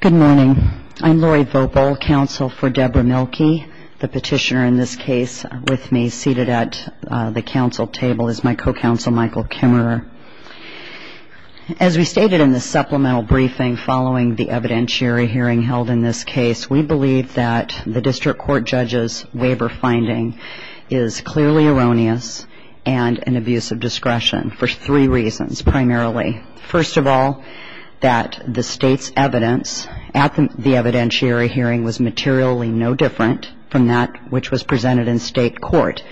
Good morning. I'm Lori Voepel, counsel for Deborah Mielke. The petitioner in this case with me, seated at the council table, is my co-counsel Michael Kimmerer. As we stated in the supplemental briefing following the evidentiary hearing held in this case, we believe that the district court judge's waiver finding is clearly erroneous and an abuse of discretion for three reasons, primarily. First of all, that the state's evidence at the evidentiary hearing was materially no different from that which was presented in state court.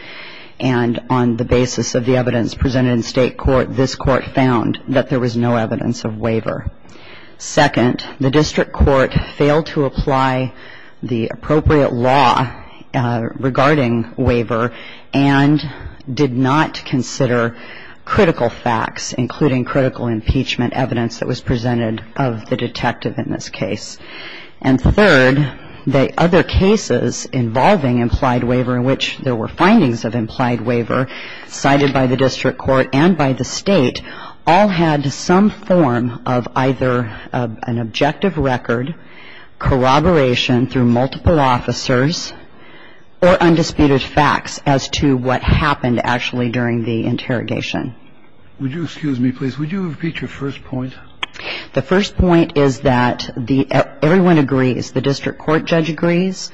And on the basis of the evidence presented in state court, this court found that there was no evidence of waiver. Second, the district court failed to apply the appropriate law regarding waiver and did not consider critical facts, including critical impeachment evidence that was presented of the detective in this case. And third, the other cases involving implied waiver in which there were findings of implied waiver cited by the district court and by the state all had some form of either an objective record, corroboration through multiple officers, or undisputed facts as to what happened actually during the interrogation. Would you excuse me, please? Would you repeat your first point? The first point is that everyone agrees, the district court judge agrees,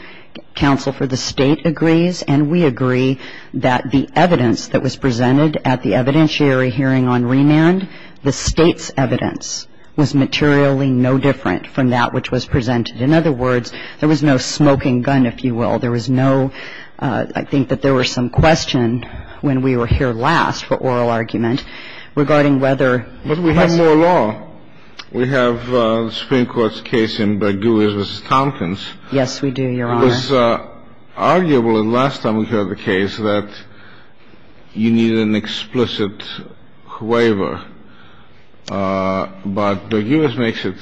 counsel for the state agrees, and we agree that the evidence that was presented at the evidentiary hearing on remand, the state's evidence was materially no different from that which was presented. In other words, there was no smoking gun, if you will. There was no – I think that there was some question when we were here last for oral argument regarding whether – But we have more law. We have the Supreme Court's case in Berguis v. Tompkins. Yes, we do, Your Honor. It was arguable the last time we heard the case that you needed an explicit waiver. But Berguis makes it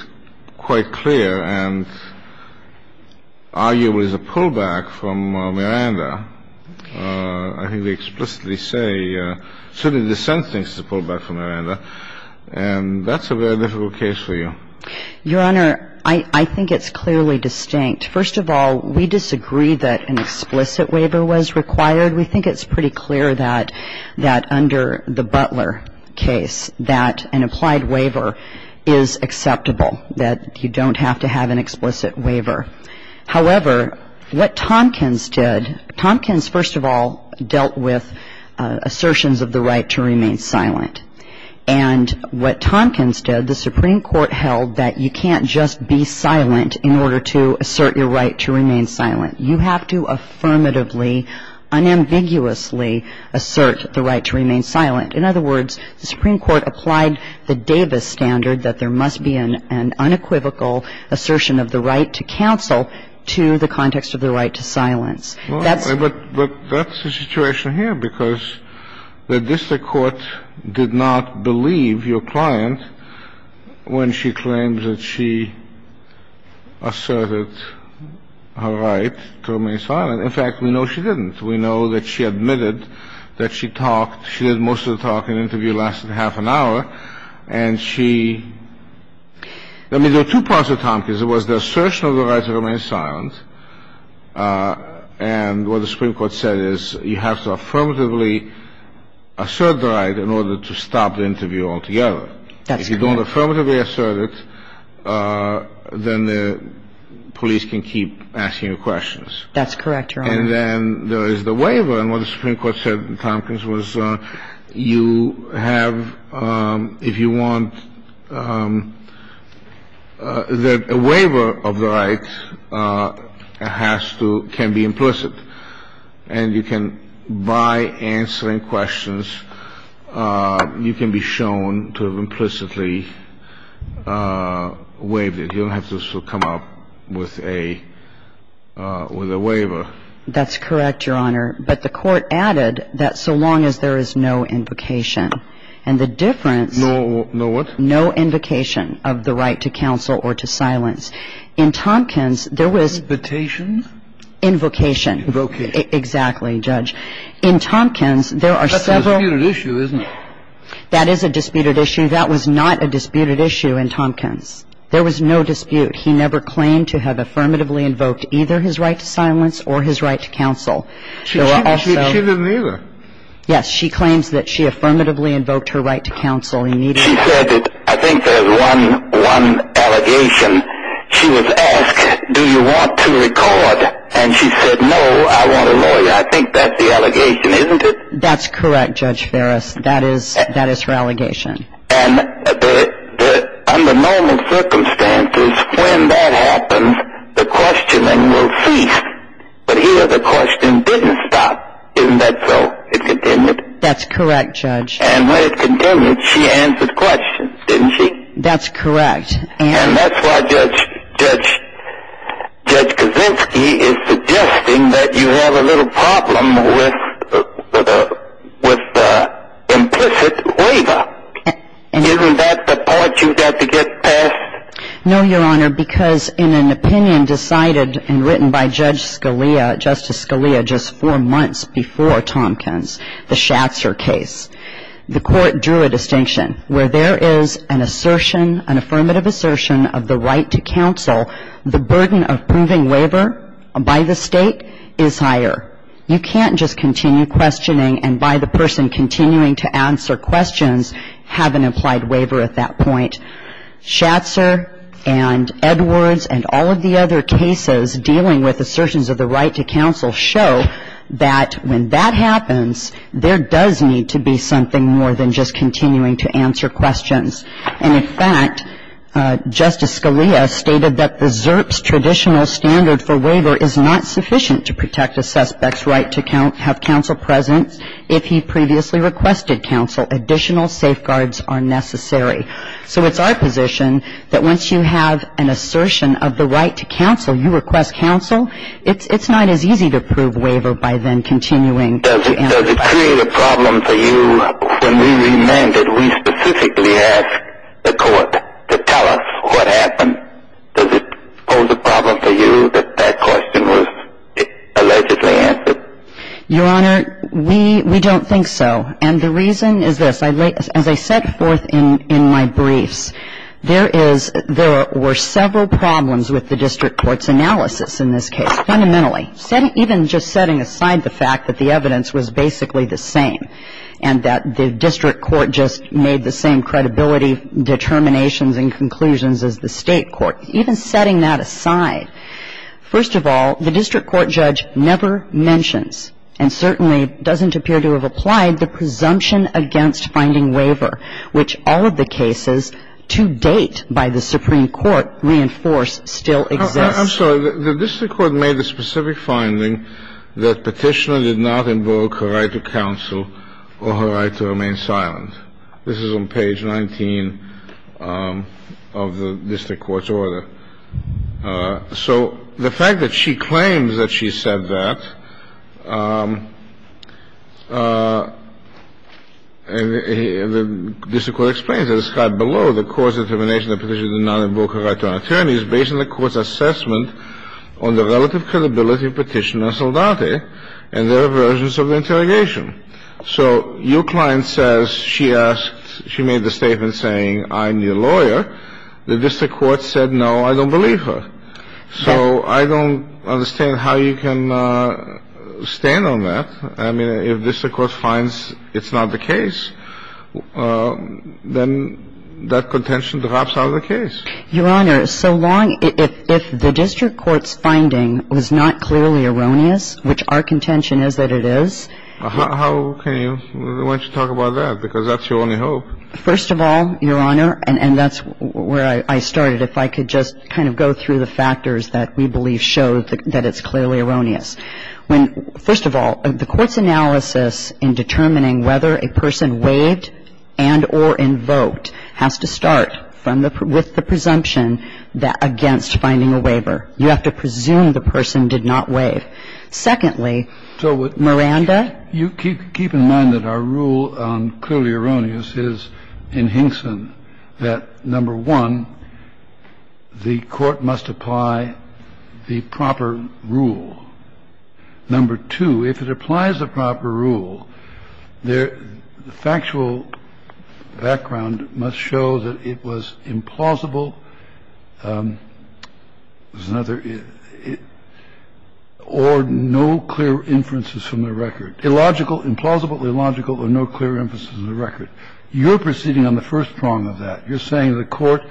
quite clear and arguably is a pullback from Miranda. Okay. I think that's a very difficult case for you. Your Honor, I think it's clearly distinct. First of all, we disagree that an explicit waiver was required. We think it's pretty clear that under the Butler case that an applied waiver is acceptable, that you don't have to have an explicit waiver. However, what Tompkins did – Tompkins, first of all, dealt with assertions of the right to remain silent. And what Tompkins did, the Supreme Court held that you can't just be silent in order to assert your right to remain silent. You have to affirmatively, unambiguously assert the right to remain silent. In other words, the Supreme Court applied the Davis standard that there must be an unequivocal assertion of the right to counsel to the context of the right to silence. That's – But that's the situation here because the district court did not believe your client when she claimed that she asserted her right to remain silent. In fact, we know she didn't. We know that she admitted that she talked – she did most of the talk and interview lasted half an hour. And she – I mean, there are two parts of Tompkins. There was the assertion of the right to remain silent. And what the Supreme Court said is you have to affirmatively assert the right in order to stop the interview altogether. That's correct. If you don't affirmatively assert it, then the police can keep asking you questions. That's correct, Your Honor. And then there is the waiver. And what the Supreme Court said in Tompkins was you have – if you want – that a waiver of the right has to – can be implicit. And you can – by answering questions, you can be shown to have implicitly waived it. But you don't have to come up with a waiver. That's correct, Your Honor. But the court added that so long as there is no invocation. And the difference – No what? No invocation of the right to counsel or to silence. In Tompkins, there was – Invitation? Invocation. Invocation. Exactly, Judge. In Tompkins, there are several – That's a disputed issue, isn't it? That is a disputed issue. That was not a disputed issue in Tompkins. There was no dispute. He never claimed to have affirmatively invoked either his right to silence or his right to counsel. She didn't either. Yes, she claims that she affirmatively invoked her right to counsel immediately. She said that – I think there's one allegation. She was asked, do you want to record? And she said, no, I want a lawyer. I think that's the allegation, isn't it? That's correct, Judge Ferris. That is her allegation. And under normal circumstances, when that happens, the questioning will cease. But here the questioning didn't stop. Isn't that so? It continued. That's correct, Judge. And when it continued, she answered questions, didn't she? That's correct. And that's why Judge Kaczynski is suggesting that you have a little problem with implicit waiver. Isn't that the part you've got to get past? No, Your Honor, because in an opinion decided and written by Judge Scalia, Justice Scalia just four months before Tompkins, the Schatzer case, the court drew a distinction. Where there is an assertion, an affirmative assertion of the right to counsel, the burden of proving waiver by the State is higher. You can't just continue questioning and by the person continuing to answer questions have an implied waiver at that point. Schatzer and Edwards and all of the other cases dealing with assertions of the right to counsel show that when that happens, there does need to be something more than just continuing to answer questions. And in fact, Justice Scalia stated that the ZERP's traditional standard for waiver is not sufficient to protect a suspect's right to have counsel present if he previously requested counsel. Additional safeguards are necessary. So it's our position that once you have an assertion of the right to counsel, you request counsel, it's not as easy to prove waiver by then continuing to answer questions. Does it create a problem for you when we remanded, we specifically asked the court to tell us what happened? Does it pose a problem for you that that question was allegedly answered? Your Honor, we don't think so. And the reason is this. As I set forth in my briefs, there were several problems with the district courts analysis in this case. Fundamentally, even just setting aside the fact that the evidence was basically the same and that the district court just made the same credibility determinations and conclusions as the State court. Even setting that aside, first of all, the district court judge never mentions and certainly doesn't appear to have applied the presumption against finding waiver, which all of the cases to date by the Supreme Court reinforce still exist. I'm sorry. The district court made the specific finding that Petitioner did not invoke her right to counsel or her right to remain silent. This is on page 19 of the district court's order. So the fact that she claims that she said that, and the district court explains that Petitioner did not invoke her right to an attorney is based on the court's assessment on the relative credibility of Petitioner and Soldate and their versions of the interrogation. So your client says she asked, she made the statement saying I'm your lawyer. The district court said, no, I don't believe her. So I don't understand how you can stand on that. I mean, if the district court finds it's not the case, then that contention drops out of the case. Your Honor, so long as the district court's finding was not clearly erroneous, which our contention is that it is. How can you? Why don't you talk about that? Because that's your only hope. First of all, Your Honor, and that's where I started, if I could just kind of go through the factors that we believe show that it's clearly erroneous. When, first of all, the court's analysis in determining whether a person waived and or invoked has to start from the, with the presumption against finding a waiver. You have to presume the person did not waive. Secondly, Miranda? You keep in mind that our rule on clearly erroneous is in Hinson that, number one, the court must apply the proper rule. Number two, if it applies the proper rule, the factual background must show that it was implausible. There's another. Or no clear inferences from the record. Illogical, implausibly illogical, or no clear inferences from the record. You're proceeding on the first prong of that. You're saying the court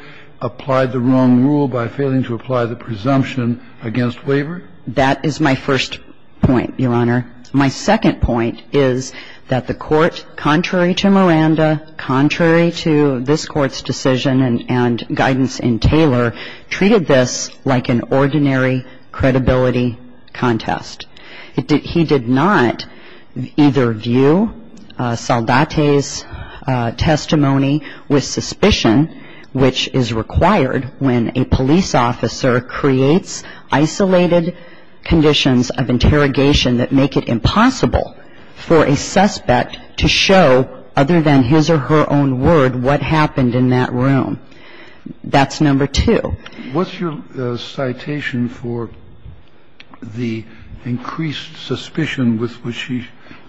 applied the wrong rule by failing to apply the presumption against waiver? That is my first point, Your Honor. My second point is that the court, contrary to Miranda, contrary to this Court's decision and guidance in Taylor, treated this like an ordinary credibility contest. He did not either view Saldate's testimony with suspicion, which is required when a police officer creates isolated conditions of interrogation that make it impossible for a suspect to show, other than his or her own word, what happened in that room. That's number two. What's your citation for the increased suspicion with which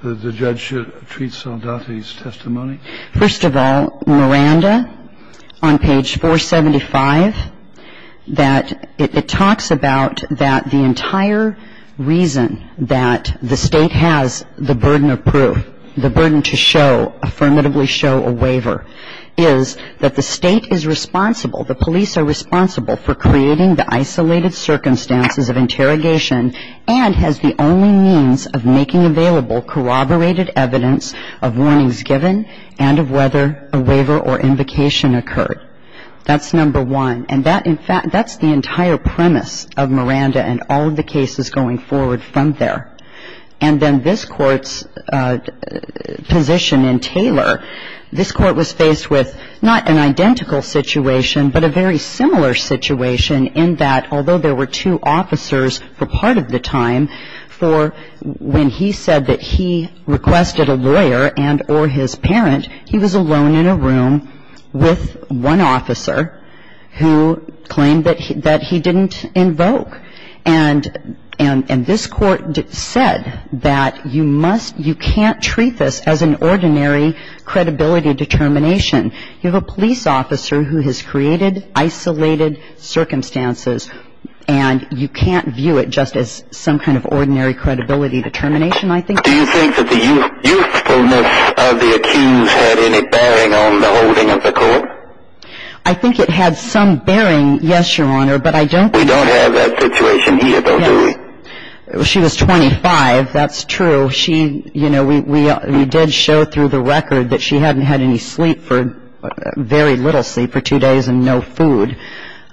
the judge treats Saldate's testimony? First of all, Miranda, on page 475, that it talks about that the entire reason that the State has the burden of proof, the burden to show, affirmatively show a waiver, is that the State is responsible, the police are responsible for creating the isolated circumstances of interrogation and has the only means of making available corroborated evidence of warnings given and of whether a waiver or invocation occurred. That's number one. And that, in fact, that's the entire premise of Miranda and all of the cases going forward from there. And then this Court's position in Taylor, this Court was faced with not an identical situation, but a very similar situation in that, although there were two officers for part of the time, for when he said that he requested a lawyer and or his parent, he was alone in a room with one officer who claimed that he didn't invoke. And this Court said that you must, you can't treat this as an ordinary credibility determination. You have a police officer who has created isolated circumstances, and you can't view it just as some kind of ordinary credibility determination, I think. Do you think that the usefulness of the accused had any bearing on the holding of the Court? I think it had some bearing, yes, Your Honor, but I don't think that's the situation here, though, do we? She was 25, that's true. She, you know, we did show through the record that she hadn't had any sleep for, very little sleep, for two days and no food.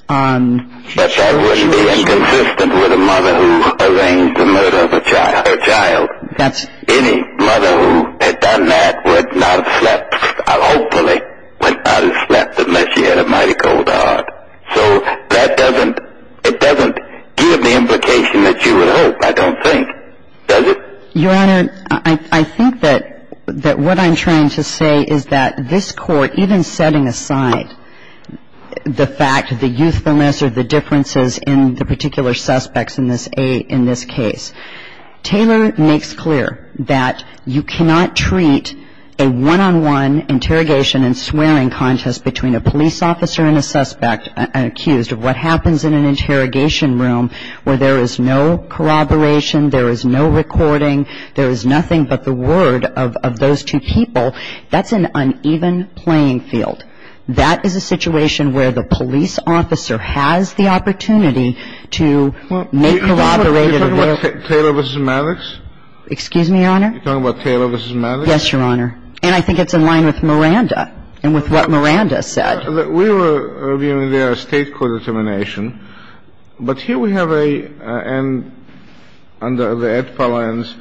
But that wouldn't be inconsistent with a mother who arranged the murder of her child. Any mother who had done that would not have slept, hopefully would not have slept unless she had a mighty cold heart. So that doesn't, it doesn't give the implication that you would hope, I don't think, does it? Your Honor, I think that what I'm trying to say is that this Court, even setting aside the fact of the usefulness or the differences in the particular suspects in this case, Taylor makes clear that you cannot treat a one-on-one interrogation and swearing contest between a police officer and a suspect accused of what happens in an interrogation room where there is no corroboration, there is no recording, there is nothing but the word of those two people. That's an uneven playing field. That is a situation where the police officer has the opportunity to make corroborated of their... Are you talking about Taylor v. Maddox? Excuse me, Your Honor? Are you talking about Taylor v. Maddox? Yes, Your Honor. And I think it's in line with Miranda and with what Miranda said. We were reviewing their state court determination. But here we have a end under the Edtpa lines.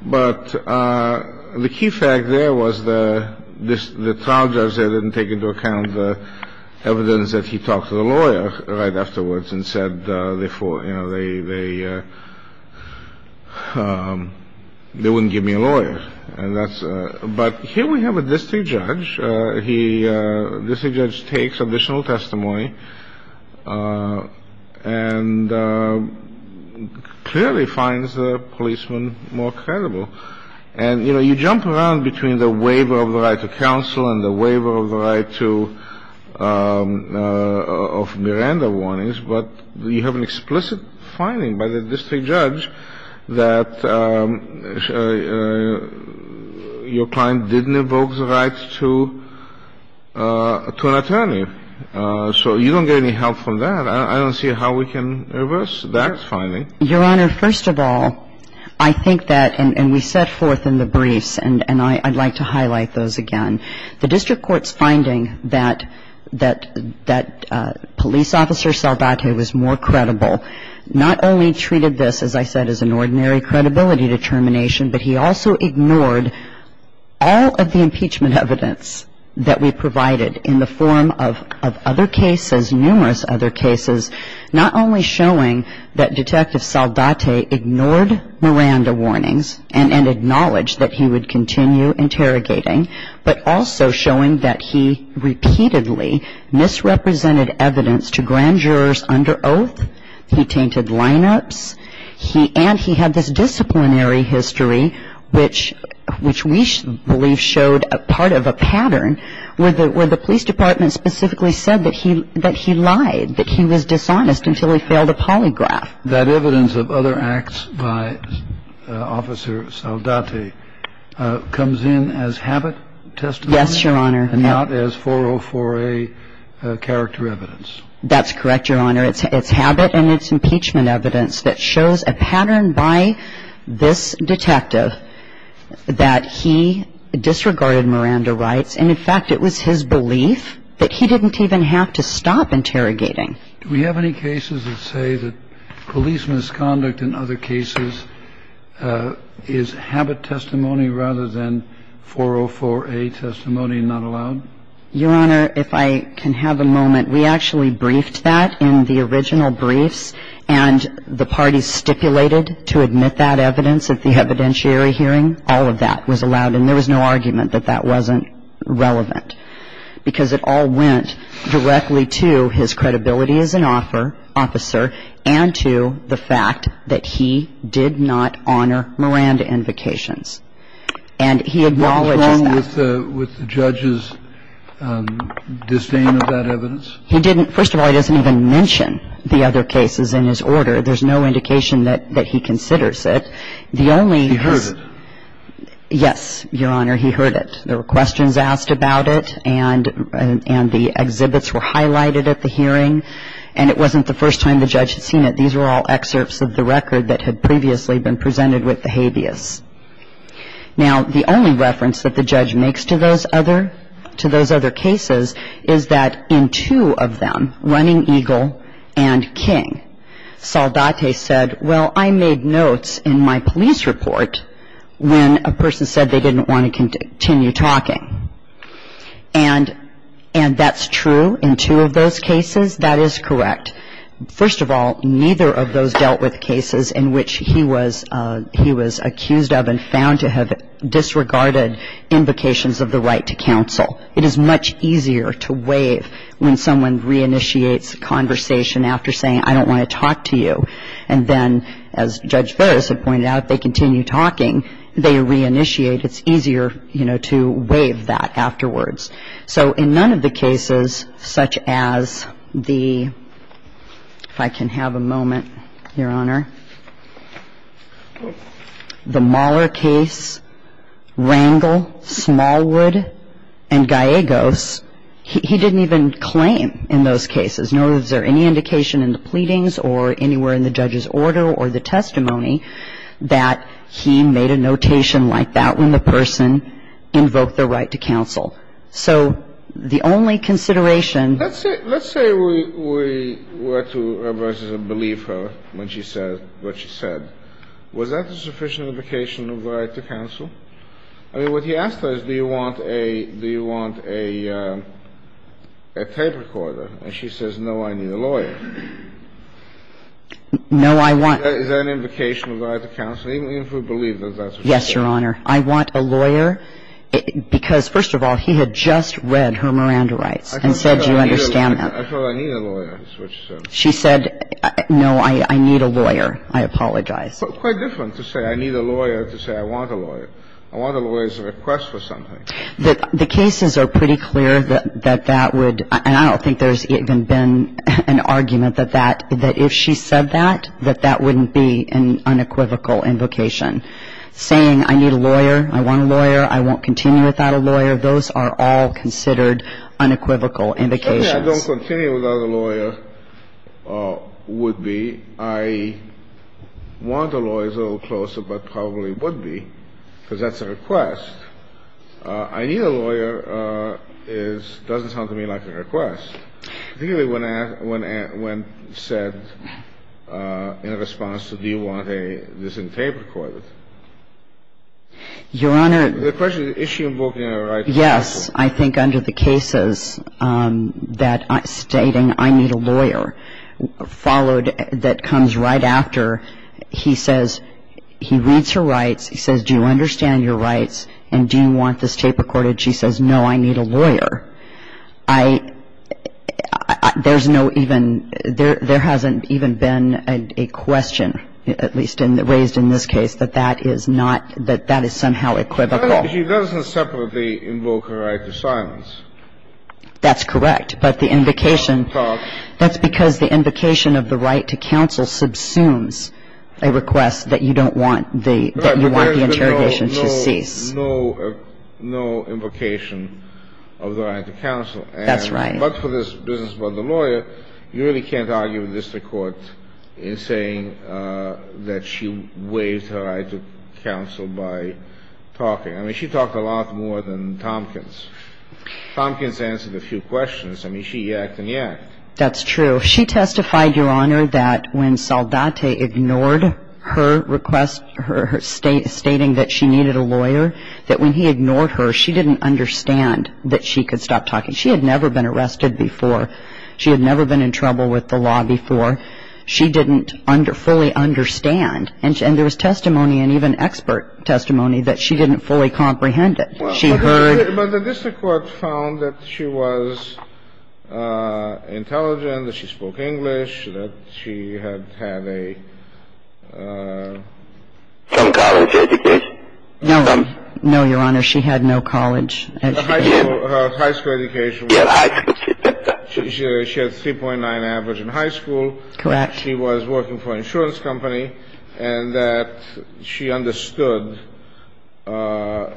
But the key fact there was the trial judge there didn't take into account the evidence that he talked to the lawyer right afterwards and said, you know, they wouldn't give me a lawyer. And that's... But here we have a district judge. He... District judge takes additional testimony and clearly finds the policeman more credible. And, you know, you jump around between the waiver of the right to counsel and the waiver of the right to... Of Miranda warnings. But you have an explicit finding by the district judge that your client didn't invoke the rights to an attorney. So you don't get any help from that. I don't see how we can reverse that finding. Your Honor, first of all, I think that... And we set forth in the briefs, and I'd like to highlight those again. The district court's finding that police officer Saldate was more credible, not only treated this, as I said, as an ordinary credibility determination, but he also ignored all of the impeachment evidence that we provided in the form of other cases, numerous other cases, not only showing that Detective Saldate ignored Miranda warnings and acknowledged that he would continue interrogating, but also showing that he repeatedly misrepresented evidence to grand jurors under oath. He tainted lineups. And he had this disciplinary history, which we believe showed part of a pattern where the police department specifically said that he lied, that he was dishonest until he failed a polygraph. That evidence of other acts by Officer Saldate comes in as habit testimony? Yes, Your Honor. And not as 404A character evidence? That's correct, Your Honor. It's habit and it's impeachment evidence that shows a pattern by this detective that he disregarded Miranda rights. And, in fact, it was his belief that he didn't even have to stop interrogating. Do we have any cases that say that police misconduct in other cases is habit testimony rather than 404A testimony not allowed? Your Honor, if I can have a moment. We actually briefed that in the original briefs, and the parties stipulated to admit that evidence at the evidentiary hearing. All of that was allowed, and there was no argument that that wasn't relevant because it all went directly to his credibility as an officer and to the fact that he did not honor Miranda invocations. And he acknowledges that. What's wrong with the judge's disdain of that evidence? He didn't. First of all, he doesn't even mention the other cases in his order. There's no indication that he considers it. He heard it. Yes, Your Honor. He heard it. There were questions asked about it, and the exhibits were highlighted at the hearing. And it wasn't the first time the judge had seen it. These were all excerpts of the record that had previously been presented with the habeas. Now, the only reference that the judge makes to those other cases is that in two of them, Running Eagle and King, Saldate said, well, I made notes in my police report when a person said they didn't want to continue talking. And that's true in two of those cases. That is correct. First of all, neither of those dealt with cases in which he was accused of and found to have disregarded invocations of the right to counsel. It is much easier to waive when someone reinitiates a conversation after saying, I don't want to talk to you. And then, as Judge Ferris had pointed out, if they continue talking, they reinitiate. It's easier, you know, to waive that afterwards. So in none of the cases such as the, if I can have a moment, Your Honor, the Mahler case, Rangel, Smallwood, and Gallegos, he didn't even claim in those cases, nor was there any indication in the pleadings or anywhere in the judge's order or the testimony that he made a notation like that when the person invoked their right to counsel. So the only consideration ---- Let's say we were to believe her when she said what she said. Was that a sufficient invocation of the right to counsel? I mean, what he asked her is, do you want a tape recorder? And she says, no, I need a lawyer. No, I want ---- Is that an invocation of the right to counsel, even if we believe that that's what she said? Yes, Your Honor. I want a lawyer because, first of all, he had just read her Miranda rights and said, do you understand that? I thought I need a lawyer, is what she said. She said, no, I need a lawyer. I apologize. Quite different to say, I need a lawyer, to say, I want a lawyer. I want a lawyer is a request for something. The cases are pretty clear that that would ---- and I don't think there's even been an argument that that ---- that if she said that, that that wouldn't be an unequivocal invocation. Saying, I need a lawyer, I want a lawyer, I won't continue without a lawyer, those are all considered unequivocal invocations. Certainly I don't continue without a lawyer, would be. I want a lawyer is a little closer, but probably would be, because that's a request. I need a lawyer is ---- doesn't sound to me like a request, particularly when asked ---- when said in response to, do you want a disentabled court. Your Honor ---- The question is, is she invoking a right? Yes. I think under the cases that stating, I need a lawyer, followed that comes right after, he says, he reads her rights, he says, do you understand your rights, and do you want this tape recorded? She says, no, I need a lawyer. I ---- there's no even ---- there hasn't even been a question, at least raised in this case, that that is not ---- that that is somehow equivocal. She doesn't separately invoke a right to silence. That's correct. But the invocation, that's because the invocation of the right to counsel subsumes a request that you don't want the ---- that you want the interrogation to cease. No, no, no invocation of the right to counsel. That's right. But for this business about the lawyer, you really can't argue with district court in saying that she waived her right to counsel by talking. I mean, she talked a lot more than Tompkins. Tompkins answered a few questions. I mean, she yacked and yacked. That's true. She testified, Your Honor, that when Saldate ignored her request, her stating that she needed a lawyer, that when he ignored her, she didn't understand that she could stop talking. She had never been arrested before. She had never been in trouble with the law before. She didn't fully understand. And there was testimony, and even expert testimony, that she didn't fully comprehend it. She heard ---- But the district court found that she was intelligent, that she spoke English, that she had had a ---- Some college education. No. No, Your Honor. She had no college education. Her high school education was ---- She had a 3.9 average in high school. Correct. She was working for an insurance company and that she understood the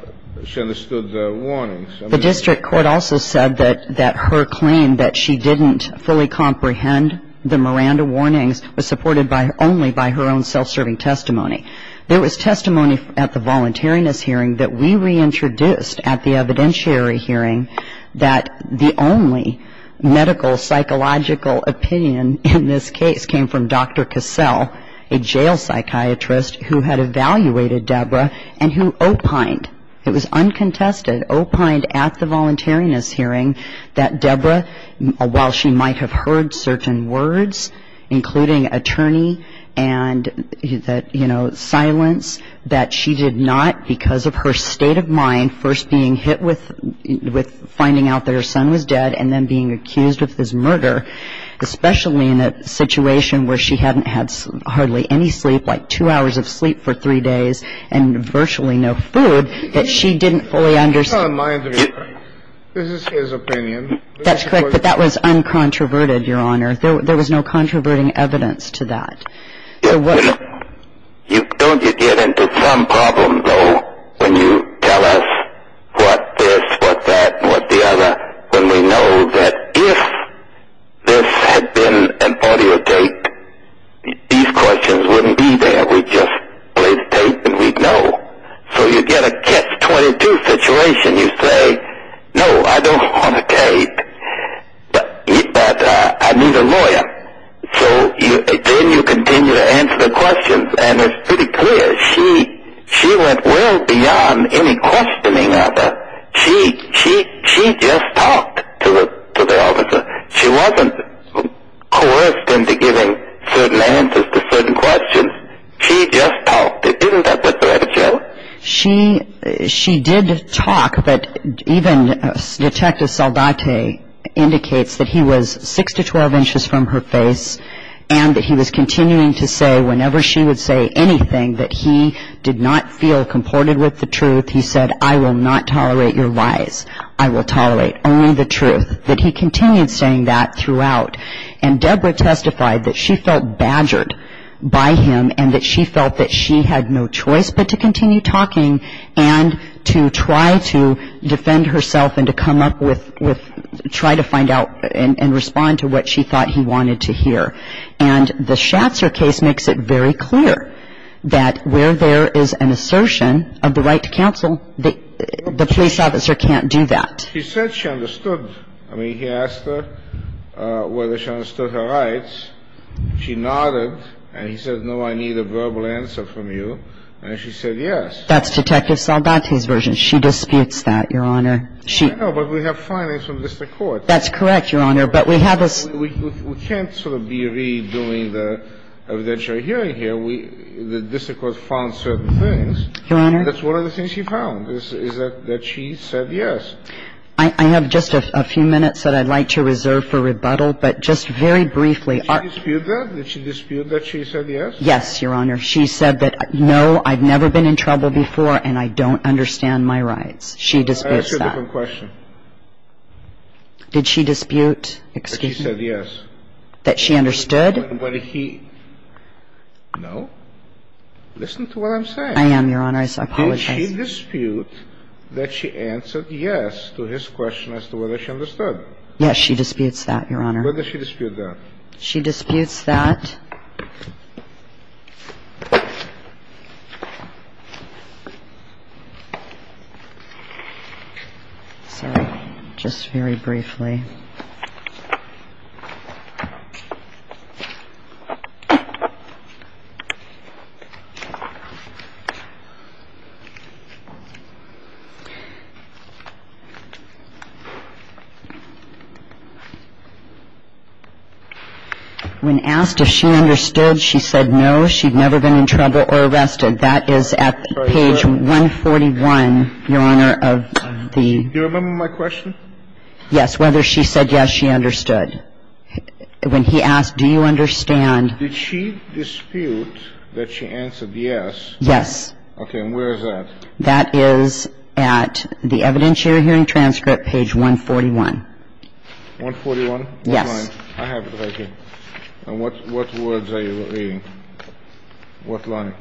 warnings. The district court also said that her claim that she didn't fully comprehend the Miranda warnings was supported only by her own self-serving testimony. There was testimony at the voluntariness hearing that we reintroduced at the evidentiary hearing that the only medical, psychological opinion in this case came from Dr. Cassell, a jail psychiatrist who had evaluated Debra and who opined. It was uncontested, opined at the voluntariness hearing that Debra, while she might have heard certain words, including attorney and that, you know, silence, that she did not, because of her state of mind, first being hit with finding out that her son was dead and then being accused of this murder, especially in a situation where she hadn't had hardly any sleep, like two hours of sleep for three days and virtually no food, that she didn't fully understand. This is his opinion. That's correct, but that was uncontroverted, Your Honor. There was no controverting evidence to that. Don't you get into some problem, though, when you tell us what this, what that, and what the other, when we know that if this had been an audio tape, these questions wouldn't be there. We'd just play the tape and we'd know. So you get a catch-22 situation. You say, no, I don't want a tape, but I need a lawyer. So then you continue to answer the questions, and it's pretty clear. She went well beyond any questioning of it. She just talked to the officer. She wasn't coerced into giving certain answers to certain questions. She just talked. Isn't that what the records show? She did talk, but even Detective Saldate indicates that he was 6 to 12 inches from her face and that he was continuing to say whenever she would say anything that he did not feel comported with the truth. He said, I will not tolerate your lies. I will tolerate only the truth, that he continued saying that throughout. And Debra testified that she felt badgered by him and that she felt that she had no choice but to continue talking and to try to defend herself and to come up with, try to find out and respond to what she thought he wanted to hear. And the Schatzer case makes it very clear that where there is an assertion of the right to counsel, the police officer can't do that. He said she understood. I mean, he asked her whether she understood her rights. She nodded and he said, no, I need a verbal answer from you. And she said yes. That's Detective Saldate's version. She disputes that, Your Honor. I know, but we have findings from the district court. That's correct, Your Honor, but we have a sort of We can't sort of be redoing the evidentiary hearing here. The district court found certain things. Your Honor. That's one of the things she found is that she said yes. I have just a few minutes that I'd like to reserve for rebuttal, but just very briefly. Did she dispute that? Did she dispute that she said yes? Yes, Your Honor. She said that, no, I've never been in trouble before and I don't understand my rights. She disputes that. I ask you a different question. Did she dispute, excuse me? That she said yes. That she understood? No. Listen to what I'm saying. I am, Your Honor. I apologize. Did she dispute that she answered yes to his question as to whether she understood? Yes, she disputes that, Your Honor. Where does she dispute that? She disputes that. Sorry. When asked if she understood, she said no, she'd never been in trouble or arrested. That is at page 141, Your Honor, of the. Do you remember my question? Yes, whether she said yes, she understood. When he asked, do you understand. Did she dispute that she answered yes? Yes. Okay, and where is that? That is at the evidentiary hearing transcript, page 141. 141? Yes. I have it right here. And what words are you reading? What line?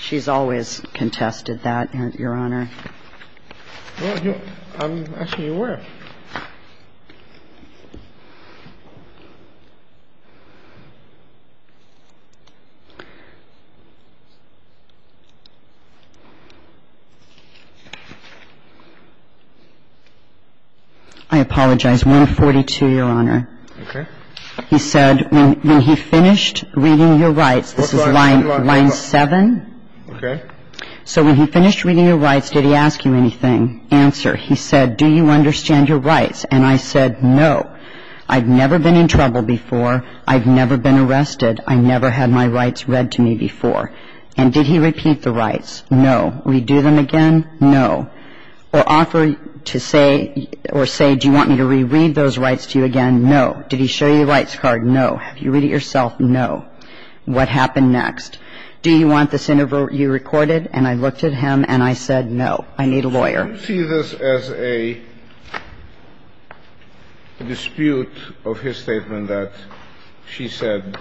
She's always contested that, Your Honor. I'm asking you where. I apologize. 142, Your Honor. Okay. He said when he finished reading your rights. What line? This is line 7. Okay. So when he finished reading your rights, did he ask you anything? Answer. He said, do you understand your rights? And I said no. I've never been in trouble before. I've never been arrested. I never had my rights read to me before. And did he repeat the rights? No. Redo them again? No. Or offer to say or say, do you want me to reread those rights to you again? No. Did he show you the rights card? No. Have you read it yourself? No. What happened next? Do you want this interview recorded? And I looked at him and I said no. I need a lawyer. Do you see this as a dispute of his statement that she said,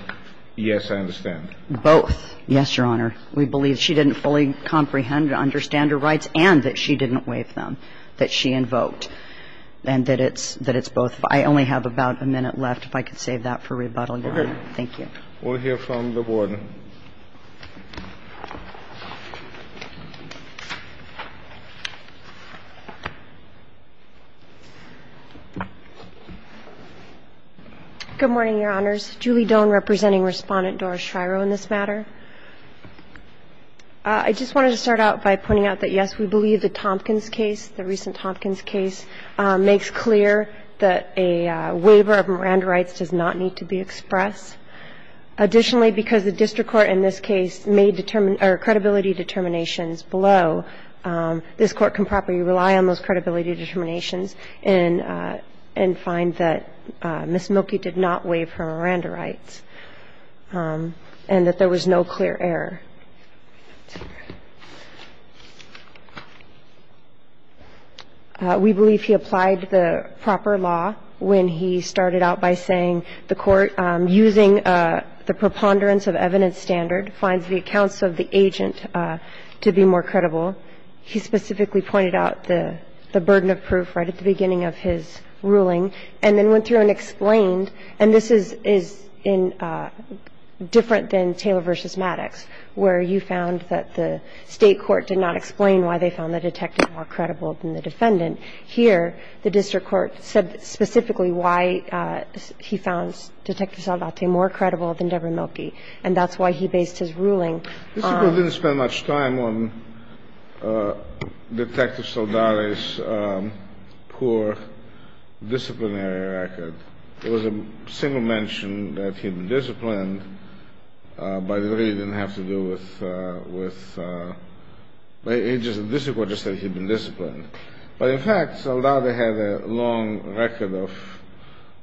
yes, I understand? Both. Yes, Your Honor. We believe she didn't fully comprehend or understand her rights and that she didn't waive them that she invoked and that it's both. I only have about a minute left. If I could save that for rebuttal, Your Honor. Okay. Thank you. We'll hear from the Board. Good morning, Your Honors. Julie Doan representing Respondent Doris Schreyer on this matter. I just wanted to start out by pointing out that, yes, we believe the Tompkins case, the recent Tompkins case, makes clear that a waiver of Miranda rights does not need to be expressed. Additionally, because the district court in this case made credibility determinations below, this Court can properly rely on those credibility determinations and find that Ms. Mielke did not waive her Miranda rights and that there was no clear error. We believe he applied the proper law when he started out by saying the court, using the preponderance of evidence standard, finds the accounts of the agent to be more credible. He specifically pointed out the burden of proof right at the beginning of his ruling and then went through and explained, and this is in different than Taylor v. Maddox, where you found that the state court did not explain why they found the detective more credible than the defendant. Here, the district court said specifically why he found Detective Saldate more credible than Deborah Mielke, and that's why he based his ruling on — The district court didn't spend much time on Detective Saldate's poor disciplinary record. It was a single mention that he had been disciplined, but it really didn't have to do with — the district court just said he had been disciplined. But in fact, Saldate had a long record of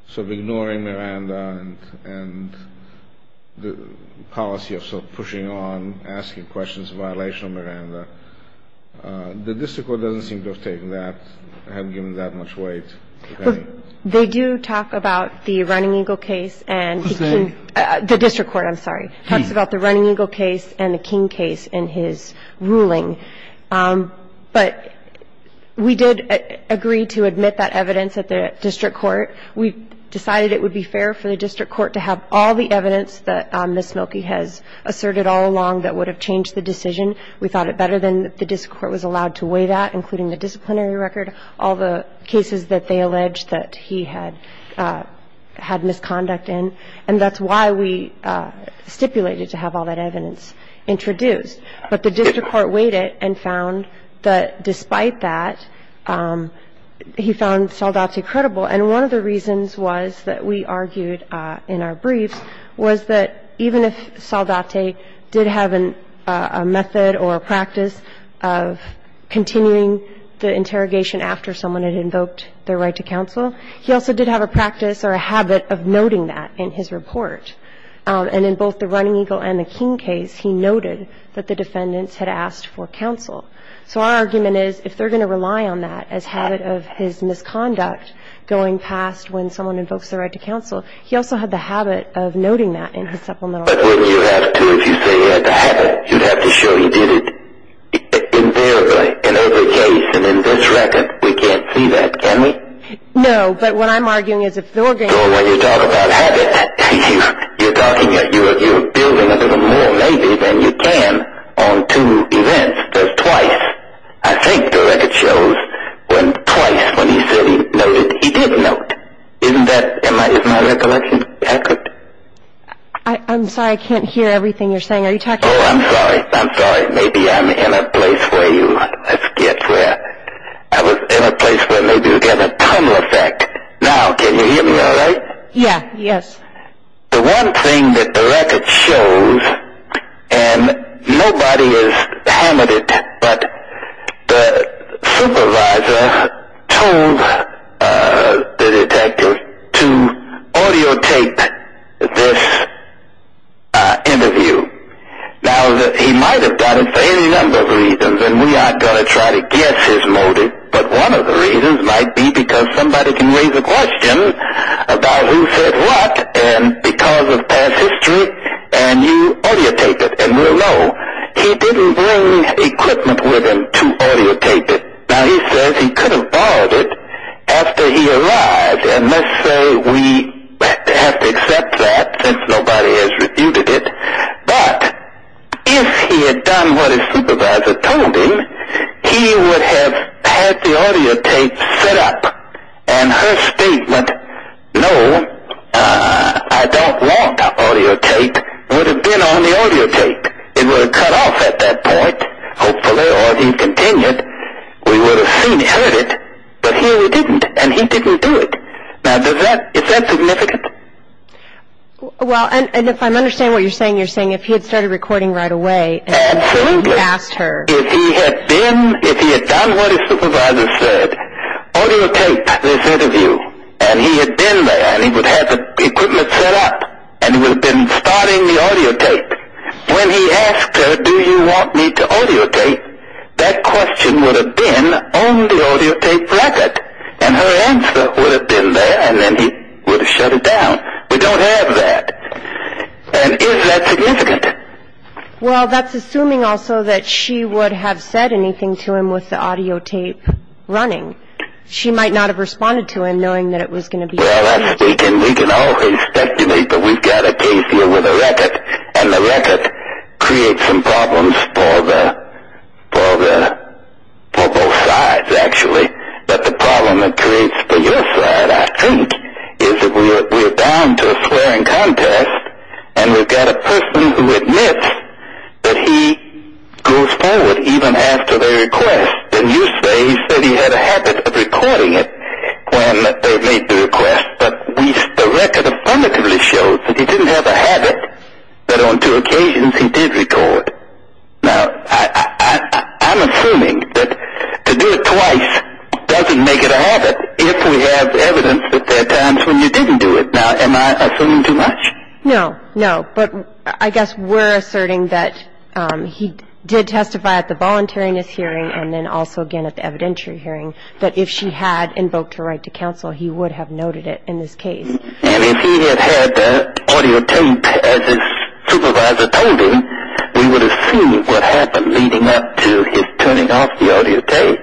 sort of ignoring Miranda and the policy of sort of pushing on, asking questions in violation of Miranda. The district court doesn't seem to have taken that, haven't given that much weight. If they do talk about the Running Eagle case and the king — Who's king? The district court, I'm sorry. He. He talks about the Running Eagle case and the king case in his ruling. But we did agree to admit that evidence at the district court. We decided it would be fair for the district court to have all the evidence that Ms. Mielke has asserted all along that would have changed the decision. We thought it better than the district court was allowed to weigh that, including the disciplinary record, all the cases that they alleged that he had misconduct in. And that's why we stipulated to have all that evidence introduced. But the district court weighed it and found that despite that, he found Saldate credible. And one of the reasons was that we argued in our briefs was that even if Saldate did have a method or a practice of continuing the interrogation after someone had invoked their right to counsel, he also did have a practice or a habit of noting that in his report. And in both the Running Eagle and the king case, he noted that the defendants had asked for counsel. So our argument is if they're going to rely on that as habit of his misconduct going past when someone invokes their right to counsel, he also had the habit of noting that in his supplemental. But wouldn't you have to if you say he had the habit? You'd have to show he did it invariably in every case. And in this record, we can't see that, can we? No. But what I'm arguing is if they're going to- So when you talk about habit, you're building a little more maybe than you can on two events. There's twice. I think the record shows when twice when he said he noted, he did note. Isn't that my recollection? I could- I'm sorry. I can't hear everything you're saying. Are you talking- Oh, I'm sorry. I'm sorry. Maybe I'm in a place where you- I forget where. I was in a place where maybe you get a tunnel effect. Now, can you hear me all right? Yeah. Yes. The one thing that the record shows, and nobody has hammered it, but the supervisor told the detective to audio tape this interview. Now, he might have done it for any number of reasons, and we aren't going to try to guess his motive, but one of the reasons might be because somebody can raise a question about who said what, and because of past history, and you audio tape it, and we'll know. He didn't bring equipment with him to audio tape it. Now, he says he could have borrowed it after he arrived, and let's say we have to accept that since nobody has refuted it. But if he had done what his supervisor told him, he would have had the audio tape set up, and her statement, no, I don't want audio tape, would have been on the audio tape. It would have cut off at that point, hopefully, or he continued. We would have seen it, heard it, but here we didn't, and he didn't do it. Now, is that significant? Well, and if I'm understanding what you're saying, you're saying if he had started recording right away and he asked her. Absolutely. If he had been, if he had done what his supervisor said, audio taped this interview, and he had been there, and he would have had the equipment set up, and he would have been starting the audio tape, when he asked her, do you want me to audio tape, that question would have been on the audio tape record, and her answer would have been there, and then he would have shut it down. We don't have that. And is that significant? Well, that's assuming also that she would have said anything to him with the audio tape running. She might not have responded to him knowing that it was going to be recorded. Well, we can always speculate, but we've got a case here with a record, and the record creates some problems for both sides, actually, but the problem it creates for your side, I think, is that we're down to a swearing contest, and we've got a person who admits that he goes forward even after they request. And you say he said he had a habit of recording it when they made the request, but the record affirmatively shows that he didn't have a habit, that on two occasions he did record. Now, I'm assuming that to do it twice doesn't make it a habit, if we have evidence that there are times when you didn't do it. Now, am I assuming too much? No, no, but I guess we're asserting that he did testify at the voluntariness hearing and then also again at the evidentiary hearing that if she had invoked her right to counsel, he would have noted it in this case. And if he had had audio tape, as his supervisor told him, we would have seen what happened leading up to his turning off the audio tape.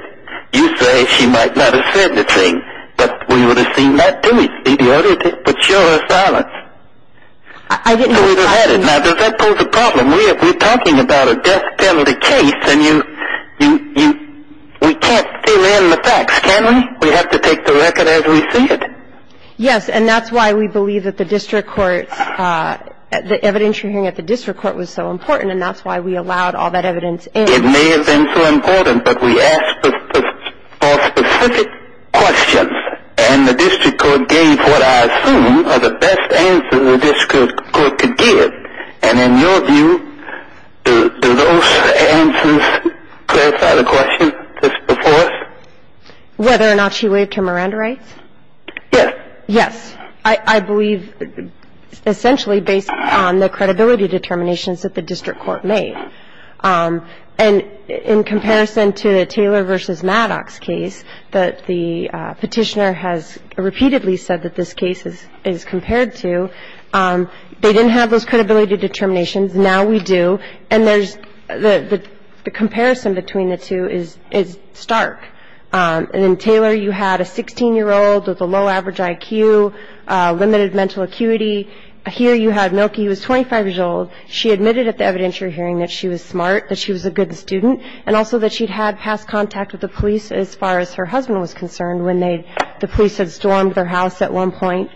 You say she might not have said the thing, but we would have seen that, too. We'd see the audio tape, but show her silence. Now, does that pose a problem? We're talking about a death penalty case, and we can't fill in the facts, can we? We have to take the record as we see it. Yes, and that's why we believe that the district court's – the evidentiary hearing at the district court was so important, and that's why we allowed all that evidence in. It may have been so important, but we asked for specific questions, and the district court gave what I assume are the best answers the district court could give. And in your view, do those answers clarify the question just before us? Whether or not she waived her Miranda rights? Yes. I believe essentially based on the credibility determinations that the district court made. And in comparison to the Taylor v. Maddox case, the Petitioner has repeatedly said that this case is compared to. They didn't have those credibility determinations. Now we do. And there's – the comparison between the two is stark. And in Taylor, you had a 16-year-old with a low average IQ, limited mental acuity. Here you had Milky, who was 25 years old. She admitted at the evidentiary hearing that she was smart, that she was a good student, and also that she'd had past contact with the police as far as her husband was concerned when they – the police had stormed their house at one point.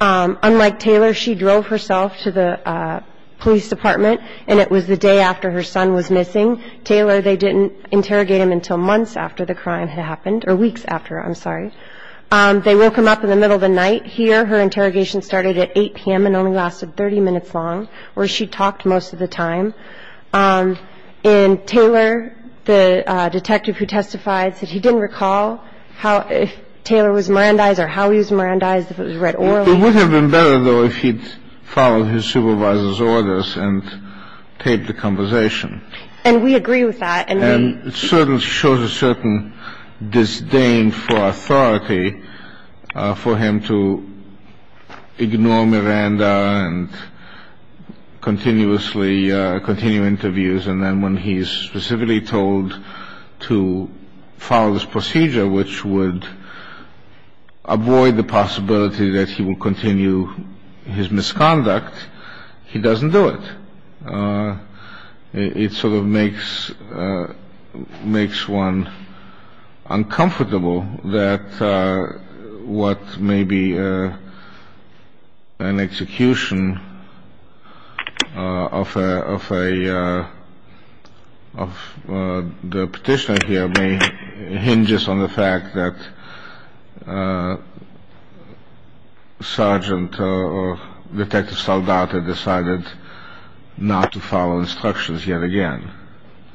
Unlike Taylor, she drove herself to the police department, and it was the day after her son was missing. Taylor, they didn't interrogate him until months after the crime had happened, or weeks after, I'm sorry. They woke him up in the middle of the night. Here her interrogation started at 8 p.m. and only lasted 30 minutes long, where she talked most of the time. And Taylor, the detective who testified, said he didn't recall how – if Taylor was Mirandized or how he was Mirandized, if it was read orally. It would have been better, though, if he'd followed his supervisor's orders and paid the compensation. And we agree with that. And it shows a certain disdain for authority for him to ignore Miranda and continuously continue interviews. And then when he's specifically told to follow this procedure, which would avoid the possibility that he will continue his misconduct, he doesn't do it. It sort of makes one uncomfortable that what may be an execution of a – not to follow instructions yet again.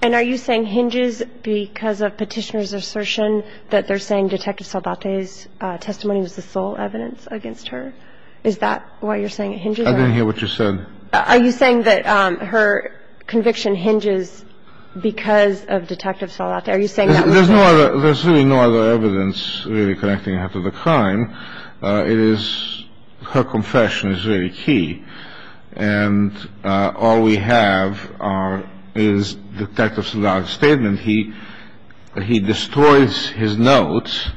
And are you saying hinges because of Petitioner's assertion that they're saying Detective Saldate's testimony was the sole evidence against her? Is that why you're saying it hinges? I didn't hear what you said. Are you saying that her conviction hinges because of Detective Saldate? There's really no other evidence really connecting her to the crime. Her confession is very key. And all we have is Detective Saldate's statement. He destroys his notes.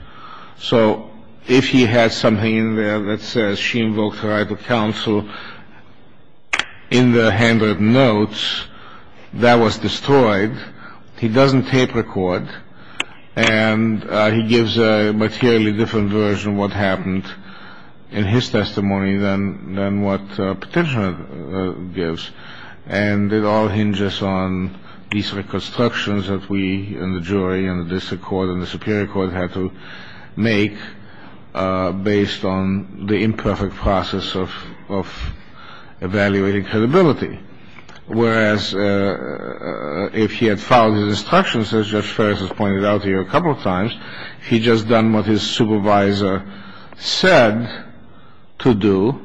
So if he had something in there that says she invoked her right of counsel in the handwritten notes, that was destroyed. He doesn't tape record. And he gives a materially different version of what happened in his testimony than what Petitioner gives. And it all hinges on these reconstructions that we and the jury and the district court and the superior court had to make based on the imperfect process of evaluating credibility. Whereas if he had followed his instructions, as Judge Ferris has pointed out to you a couple of times, if he had just done what his supervisor said to do,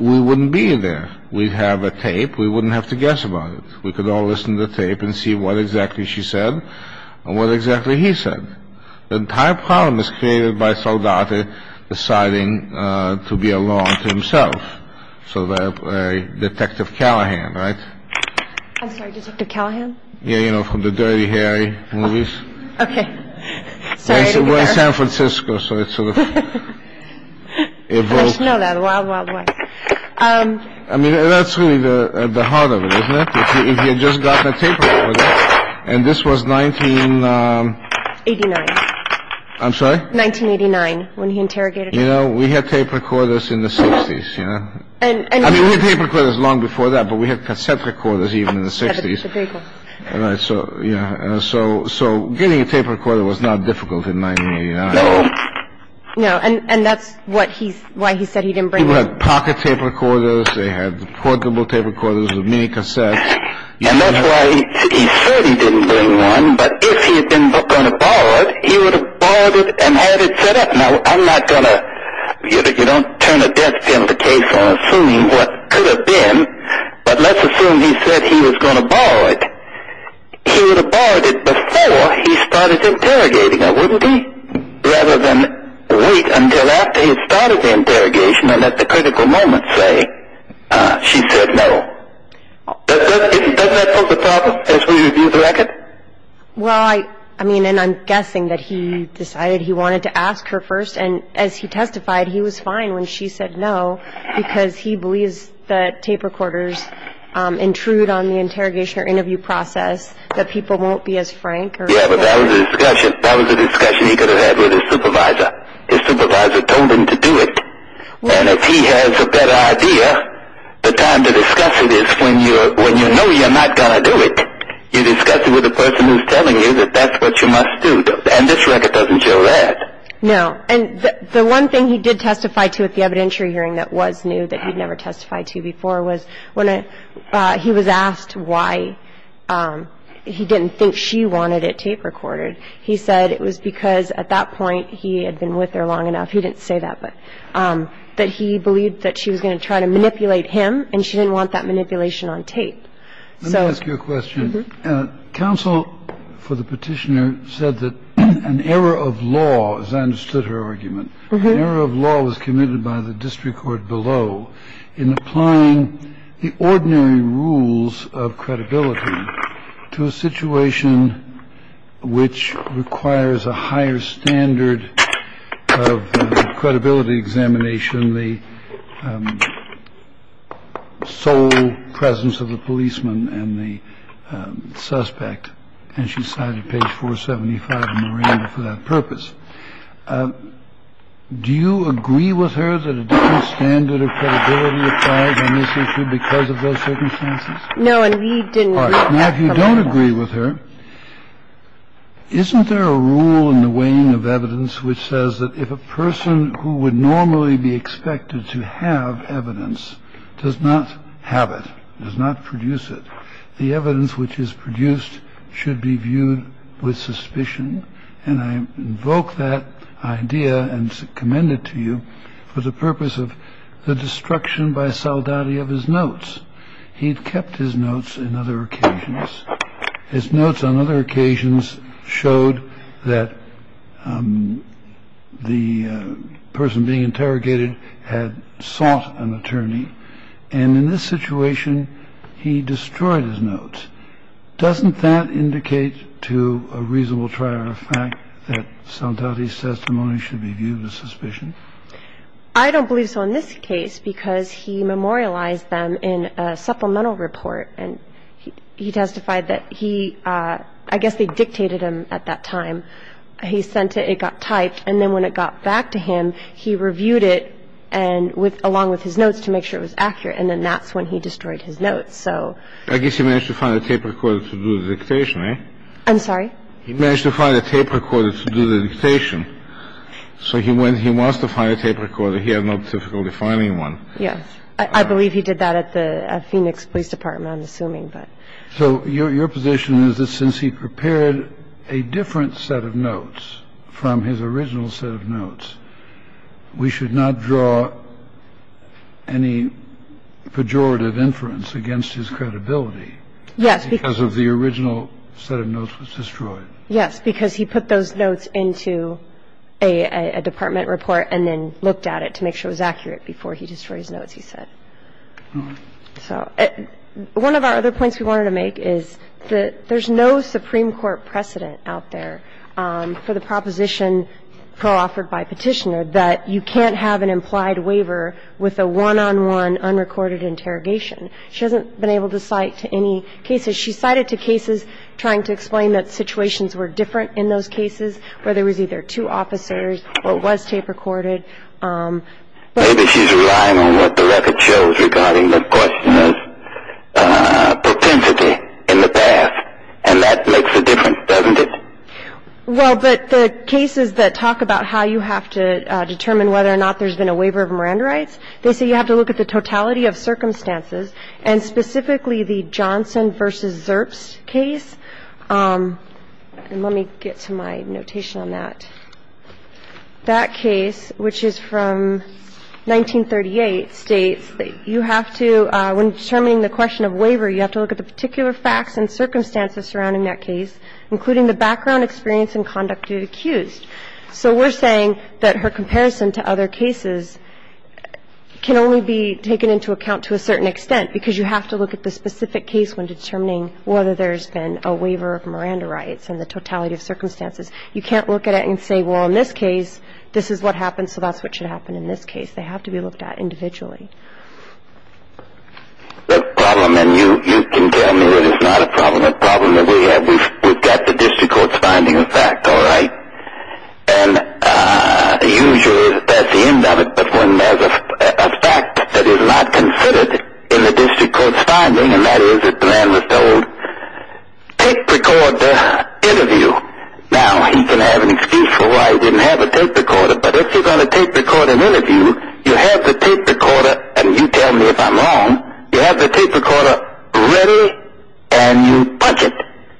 we wouldn't be there. We'd have a tape. We wouldn't have to guess about it. We could all listen to the tape and see what exactly she said and what exactly he said. The entire problem is created by Saldate deciding to be alone to himself. So that Detective Callahan. Right. I'm sorry. Callahan. Yeah. You know, from the Dirty Harry movies. OK. So we're in San Francisco. So it's sort of. If you know that a lot. I mean, that's really the heart of it, isn't it? If you just got the tape. And this was 1989. I'm sorry. Nineteen eighty nine. When he interrogated, you know, we had tape recorders in the 60s. And I remember it was long before that. But we had conceptual quarters even in the 60s. All right. So yeah. So. So getting a tape recorder was not difficult in my. No. And that's what he's why he said he didn't bring pocket tape recorders. They had portable tape recorders with me because that's why he didn't bring one. But if he had been going to borrow it, he would have borrowed it and had it set up. Now, I'm not going to. You don't turn against him the case on assuming what could have been. But let's assume he said he was going to borrow it. He would have borrowed it before he started interrogating her, wouldn't he? Rather than wait until after he had started the interrogation and at the critical moment say she said no. Doesn't that pose a problem as we review the record? Well, I mean, and I'm guessing that he decided he wanted to ask her first. And as he testified, he was fine when she said no, because he believes that tape recorders intrude on the interrogation or interview process, that people won't be as frank. Yeah, but that was a discussion. That was a discussion he could have had with his supervisor. His supervisor told him to do it. And if he has a better idea, the time to discuss it is when you know you're not going to do it. You discuss it with the person who's telling you that that's what you must do. And this record doesn't show that. No. And the one thing he did testify to at the evidentiary hearing that was new that he'd never testified to before was when he was asked why he didn't think she wanted it tape recorded, he said it was because at that point he had been with her long enough. He didn't say that, but that he believed that she was going to try to manipulate him. And she didn't want that manipulation on tape. So I ask you a question. Counsel for the petitioner said that an error of law, as I understood her argument, an error of law was committed by the district court below in applying the ordinary rules of credibility to a situation which requires a higher standard of credibility examination. The sole presence of the policeman and the suspect. And she cited page 475 Miranda for that purpose. Do you agree with her that a different standard of credibility applies on this issue because of those circumstances? No. And we didn't. Now, if you don't agree with her, isn't there a rule in the weighing of evidence which says that if a person who would normally be expected to have evidence does not have it, does not produce it, the evidence which is produced should be viewed with suspicion. And I invoke that idea and commend it to you for the purpose of the destruction by Soldati of his notes. He'd kept his notes in other occasions. His notes on other occasions showed that the person being interrogated had sought an attorney. And in this situation, he destroyed his notes. Doesn't that indicate to a reasonable trial the fact that Soldati's testimony should be viewed with suspicion? I don't believe so in this case because he memorialized them in a supplemental report. And he testified that he – I guess they dictated him at that time. He sent it. It got typed. And then when it got back to him, he reviewed it and with – along with his notes to make sure it was accurate. And then that's when he destroyed his notes. So – I guess he managed to find a tape recorder to do the dictation, right? I'm sorry? He managed to find a tape recorder to do the dictation. So he went – he wants to find a tape recorder. He had no difficulty finding one. Yes. I believe he did that at the Phoenix Police Department, I'm assuming. So your position is that since he prepared a different set of notes from his original set of notes, we should not draw any pejorative inference against his credibility? Yes. Because of the original set of notes was destroyed. Yes, because he put those notes into a department report and then looked at it to make sure it was accurate before he destroyed his notes, he said. So one of our other points we wanted to make is that there's no Supreme Court precedent out there for the proposition co-offered by Petitioner that you can't have an implied waiver with a one-on-one unrecorded interrogation. She hasn't been able to cite to any cases. She cited to cases trying to explain that situations were different in those cases where there was either two officers or it was tape recorded. Maybe she's relying on what the record shows regarding the question of propensity in the past, and that makes a difference, doesn't it? Well, but the cases that talk about how you have to determine whether or not there's been a waiver of Miranda rights, they say you have to look at the totality of circumstances, and specifically the Johnson v. Zerps case. And let me get to my notation on that. That case, which is from 1938, states that you have to, when determining the question of waiver, you have to look at the particular facts and circumstances surrounding that case, including the background, experience, and conduct to be accused. So we're saying that her comparison to other cases can only be taken into account to a certain extent because you have to look at the specific case when determining whether there's been a waiver of Miranda rights and the totality of circumstances. You can't look at it and say, well, in this case, this is what happened, so that's what should happen in this case. They have to be looked at individually. The problem, and you can tell me that it's not a problem, the problem that we have, we've got the district court's finding of fact, all right? And usually that's the end of it, but when there's a fact that is not considered in the district court's finding, and that is that the man was told, take the court to interview. Now, he can have an excuse for why he didn't have a tape recorder, but if you're going to tape record an interview, you have the tape recorder, and you tell me if I'm wrong, you have the tape recorder ready and you punch it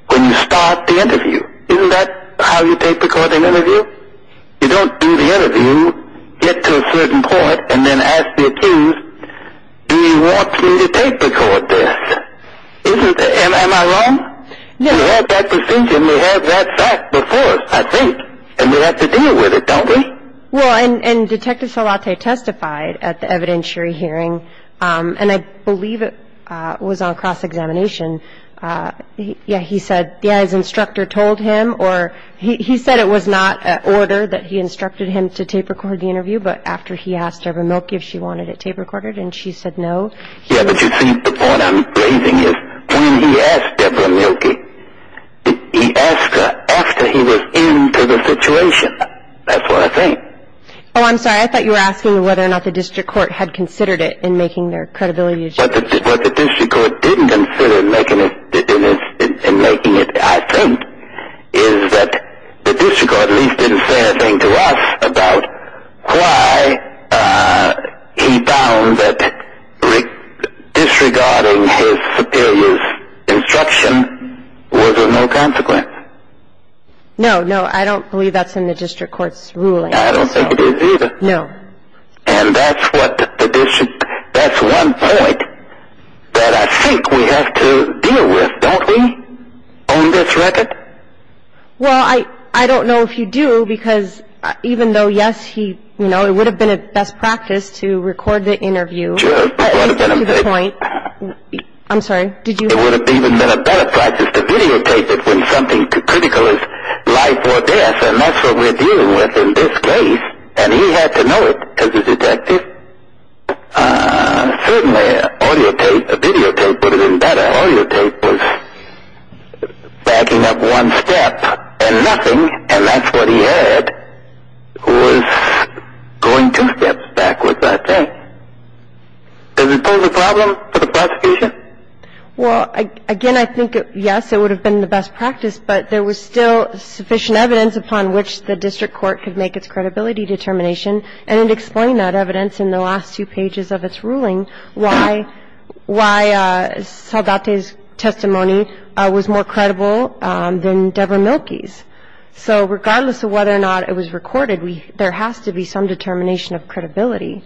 when you start the interview. Isn't that how you tape record an interview? You don't do the interview, get to a certain point, and then ask the accused, do you want me to tape record this? Am I wrong? You have that procedure and you have that fact before us, I think, and we have to deal with it, don't we? Well, and Detective Salate testified at the evidentiary hearing, and I believe it was on cross-examination. Yeah, he said, yeah, his instructor told him, or he said it was not an order that he instructed him to tape record the interview, but after he asked Deborah Mielke if she wanted it tape recorded and she said no. Yeah, but you see, the point I'm raising is when he asked Deborah Mielke, he asked her after he was into the situation. That's what I think. Oh, I'm sorry. I thought you were asking whether or not the district court had considered it in making their credibility assessment. What the district court didn't consider in making it, I think, is that the district court at least didn't say a thing to us about why he found that disregarding his superior's instruction was of no consequence. No, no, I don't believe that's in the district court's ruling. I don't think it is either. No. And that's one point that I think we have to deal with, don't we, on this record? Well, I don't know if you do, because even though, yes, it would have been a best practice to record the interview. Sure. At least up to the point. I'm sorry. It would have even been a better practice to videotape it when something as critical as life or death, and that's what we're dealing with in this case, and he had to know it because he's a detective. Certainly audio tape, videotape would have been better. Audio tape was backing up one step and nothing, and that's what he heard, was going two steps backwards, I think. Does it pose a problem for the prosecution? Well, again, I think, yes, it would have been the best practice, but there was still sufficient evidence upon which the district court could make its credibility determination, and it explained that evidence in the last two pages of its ruling, why Saldate's testimony was more credible than Deborah Mielke's. So regardless of whether or not it was recorded, there has to be some determination of credibility.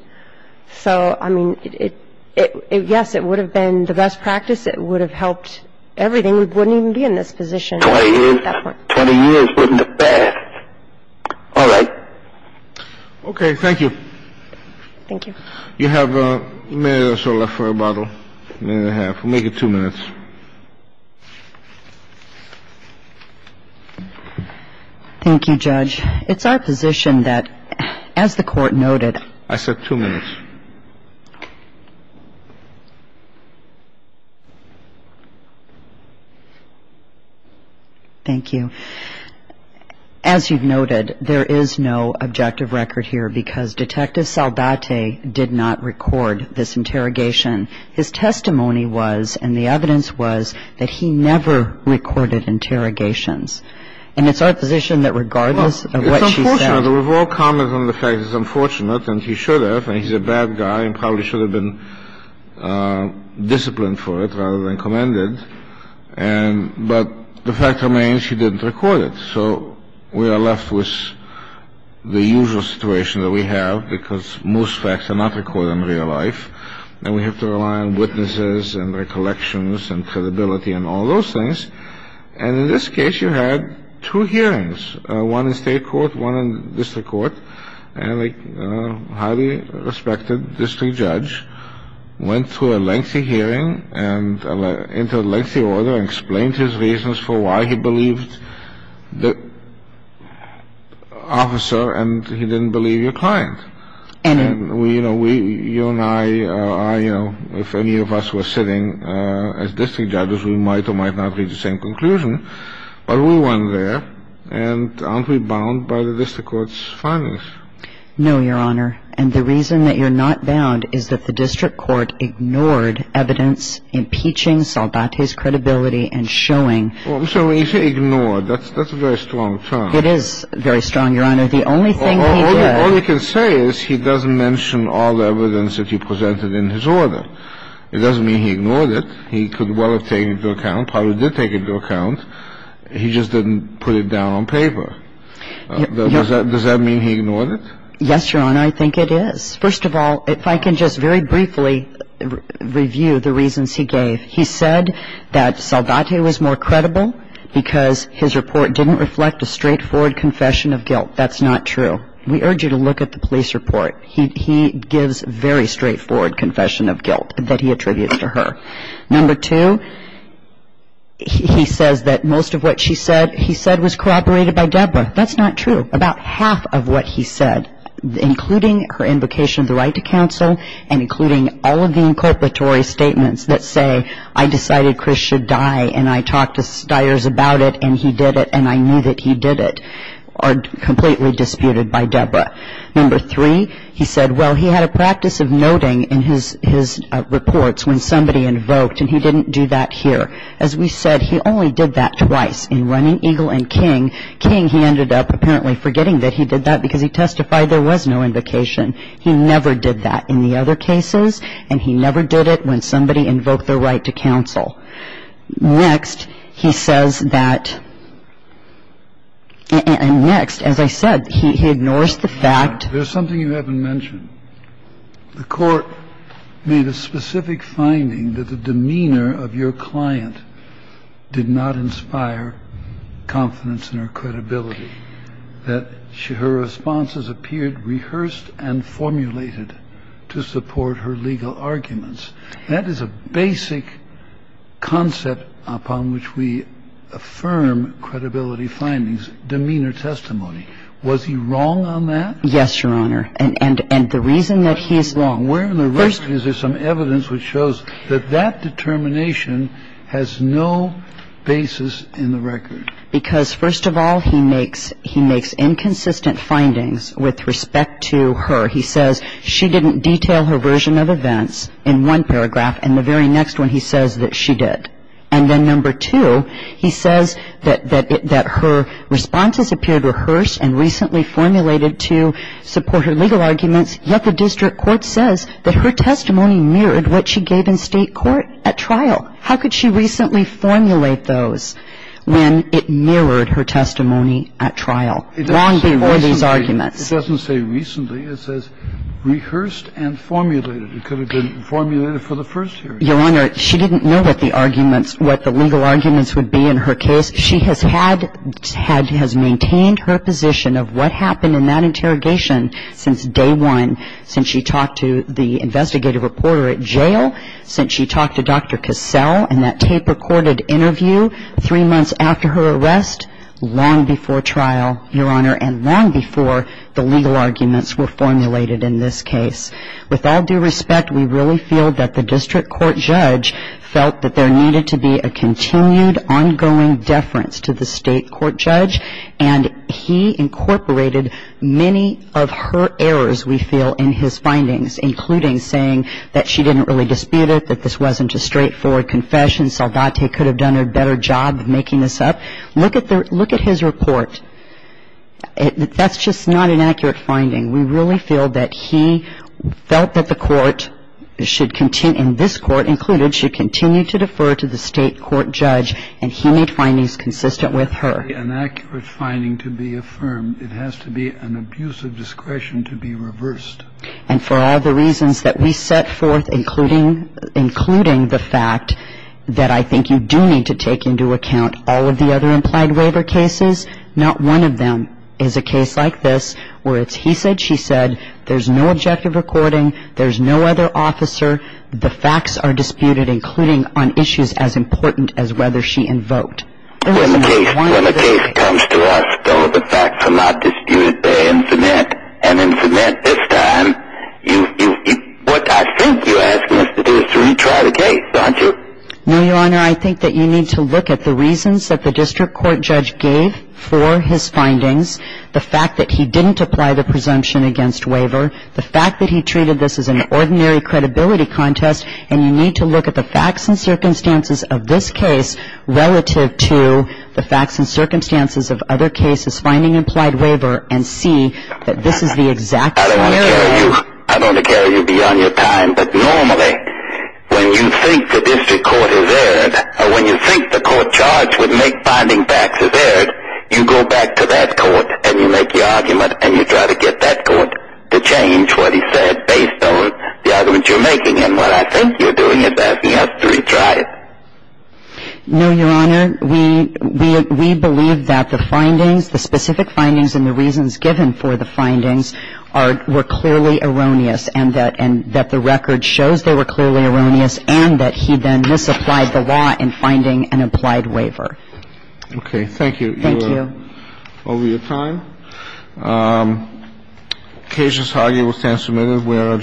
So, I mean, yes, it would have been the best practice. It would have helped everything. We wouldn't even be in this position at that point. Twenty years wouldn't have passed. All right. Okay. Thank you. Thank you. You have a minute or so left for a bottle, a minute and a half. We'll make it two minutes. Thank you, Judge. It's our position that, as the Court noted. I said two minutes. Thank you. As you've noted, there is no objective record here because Detective Saldate did not record this interrogation. His testimony was, and the evidence was, that he never recorded interrogations. And it's our position that regardless of what she said. Well, it's unfortunate. We've all commented on the fact that it's unfortunate, and he should have, and he's a bad guy, and probably should have been disciplined for it rather than commended. But the fact remains she didn't record it. So we are left with the usual situation that we have because most facts are not recorded in real life. And we have to rely on witnesses and recollections and credibility and all those things. And in this case, you had two hearings, one in state court, one in district court. And a highly respected district judge went through a lengthy hearing and entered a lengthy order and explained his reasons for why he believed the officer and he didn't believe your client. And we, you know, you and I, you know, if any of us were sitting as district judges, we might or might not reach the same conclusion. But we went there, and aren't we bound by the district court's findings? No, Your Honor. And the reason that you're not bound is that the district court ignored evidence impeaching Saldate's credibility and showing. Well, I'm sorry. When you say ignored, that's a very strong term. It is very strong, Your Honor. The only thing he did. All he can say is he doesn't mention all the evidence that he presented in his order. It doesn't mean he ignored it. He could well have taken it into account. Well, he did take it into account. He just didn't put it down on paper. Does that mean he ignored it? Yes, Your Honor. I think it is. First of all, if I can just very briefly review the reasons he gave. He said that Saldate was more credible because his report didn't reflect a straightforward confession of guilt. That's not true. We urge you to look at the police report. He gives very straightforward confession of guilt that he attributes to her. Number two, he says that most of what she said he said was corroborated by Debra. That's not true. About half of what he said, including her invocation of the right to counsel, and including all of the inculpatory statements that say, I decided Chris should die and I talked to styers about it and he did it and I knew that he did it, are completely disputed by Debra. Number three, he said, well, he had a practice of noting in his reports when somebody invoked and he didn't do that here. As we said, he only did that twice in Running Eagle and King. King, he ended up apparently forgetting that he did that because he testified there was no invocation. He never did that in the other cases and he never did it when somebody invoked the right to counsel. Next, he says that next, as I said, he ignores the fact. There's something you haven't mentioned. The court made a specific finding that the demeanor of your client did not inspire confidence in her credibility, that her responses appeared rehearsed and formulated to support her legal arguments. That is a basic concept upon which we affirm credibility findings, demeanor testimony. Was he wrong on that? Yes, Your Honor. And the reason that he is wrong. Where in the record is there some evidence which shows that that determination has no basis in the record? Because, first of all, he makes inconsistent findings with respect to her. He says she didn't detail her version of events in one paragraph, and the very next one he says that she did. And then number two, he says that her responses appeared rehearsed and recently formulated to support her legal arguments, yet the district court says that her testimony mirrored what she gave in State court at trial. How could she recently formulate those when it mirrored her testimony at trial, long before these arguments? It doesn't say recently. It says rehearsed and formulated. It could have been formulated for the first hearing. Your Honor, she didn't know what the arguments, what the legal arguments would be in her She has maintained her position of what happened in that interrogation since day one, since she talked to the investigative reporter at jail, since she talked to Dr. Cassell in that tape-recorded interview three months after her arrest, long before trial, Your Honor, and long before the legal arguments were formulated in this case. With all due respect, we really feel that the district court judge felt that there needed to be a continued ongoing deference to the State court judge, and he incorporated many of her errors, we feel, in his findings, including saying that she didn't really dispute it, that this wasn't a straightforward confession, Saldate could have done a better job of making this up. Look at his report. That's just not an accurate finding. We really feel that he felt that the court should continue, and this court included, that she should continue to defer to the State court judge, and he made findings consistent with her. It's a very inaccurate finding to be affirmed. It has to be an abuse of discretion to be reversed. And for all the reasons that we set forth, including the fact that I think you do need to take into account all of the other implied waiver cases, not one of them is a case like this, where it's he said, she said, there's no objective recording, there's no other officer, the facts are disputed, including on issues as important as whether she invoked. When the case comes to us, though, the facts are not disputed by infinite, and infinite this time, what I think you're asking us to do is to retry the case, aren't you? No, Your Honor, I think that you need to look at the reasons that the district court judge gave for his findings, the fact that he didn't apply the presumption against waiver, the fact that he treated this as an ordinary credibility contest, and you need to look at the facts and circumstances of this case relative to the facts and circumstances of other cases finding implied waiver and see that this is the exact scenario. I don't want to carry you beyond your time, but normally when you think the district court has erred, or when you think the court charged with finding facts has erred, you go back to that court and you make the argument and you try to get that court to change what he said based on the argument you're making. And what I think you're doing is asking us to retry it. No, Your Honor. We believe that the findings, the specific findings and the reasons given for the findings, were clearly erroneous and that the record shows they were clearly erroneous and that he then misapplied the law in finding an implied waiver. Okay. Thank you. Thank you. Over your time. The case is argued and will stand submitted. We are adjourned.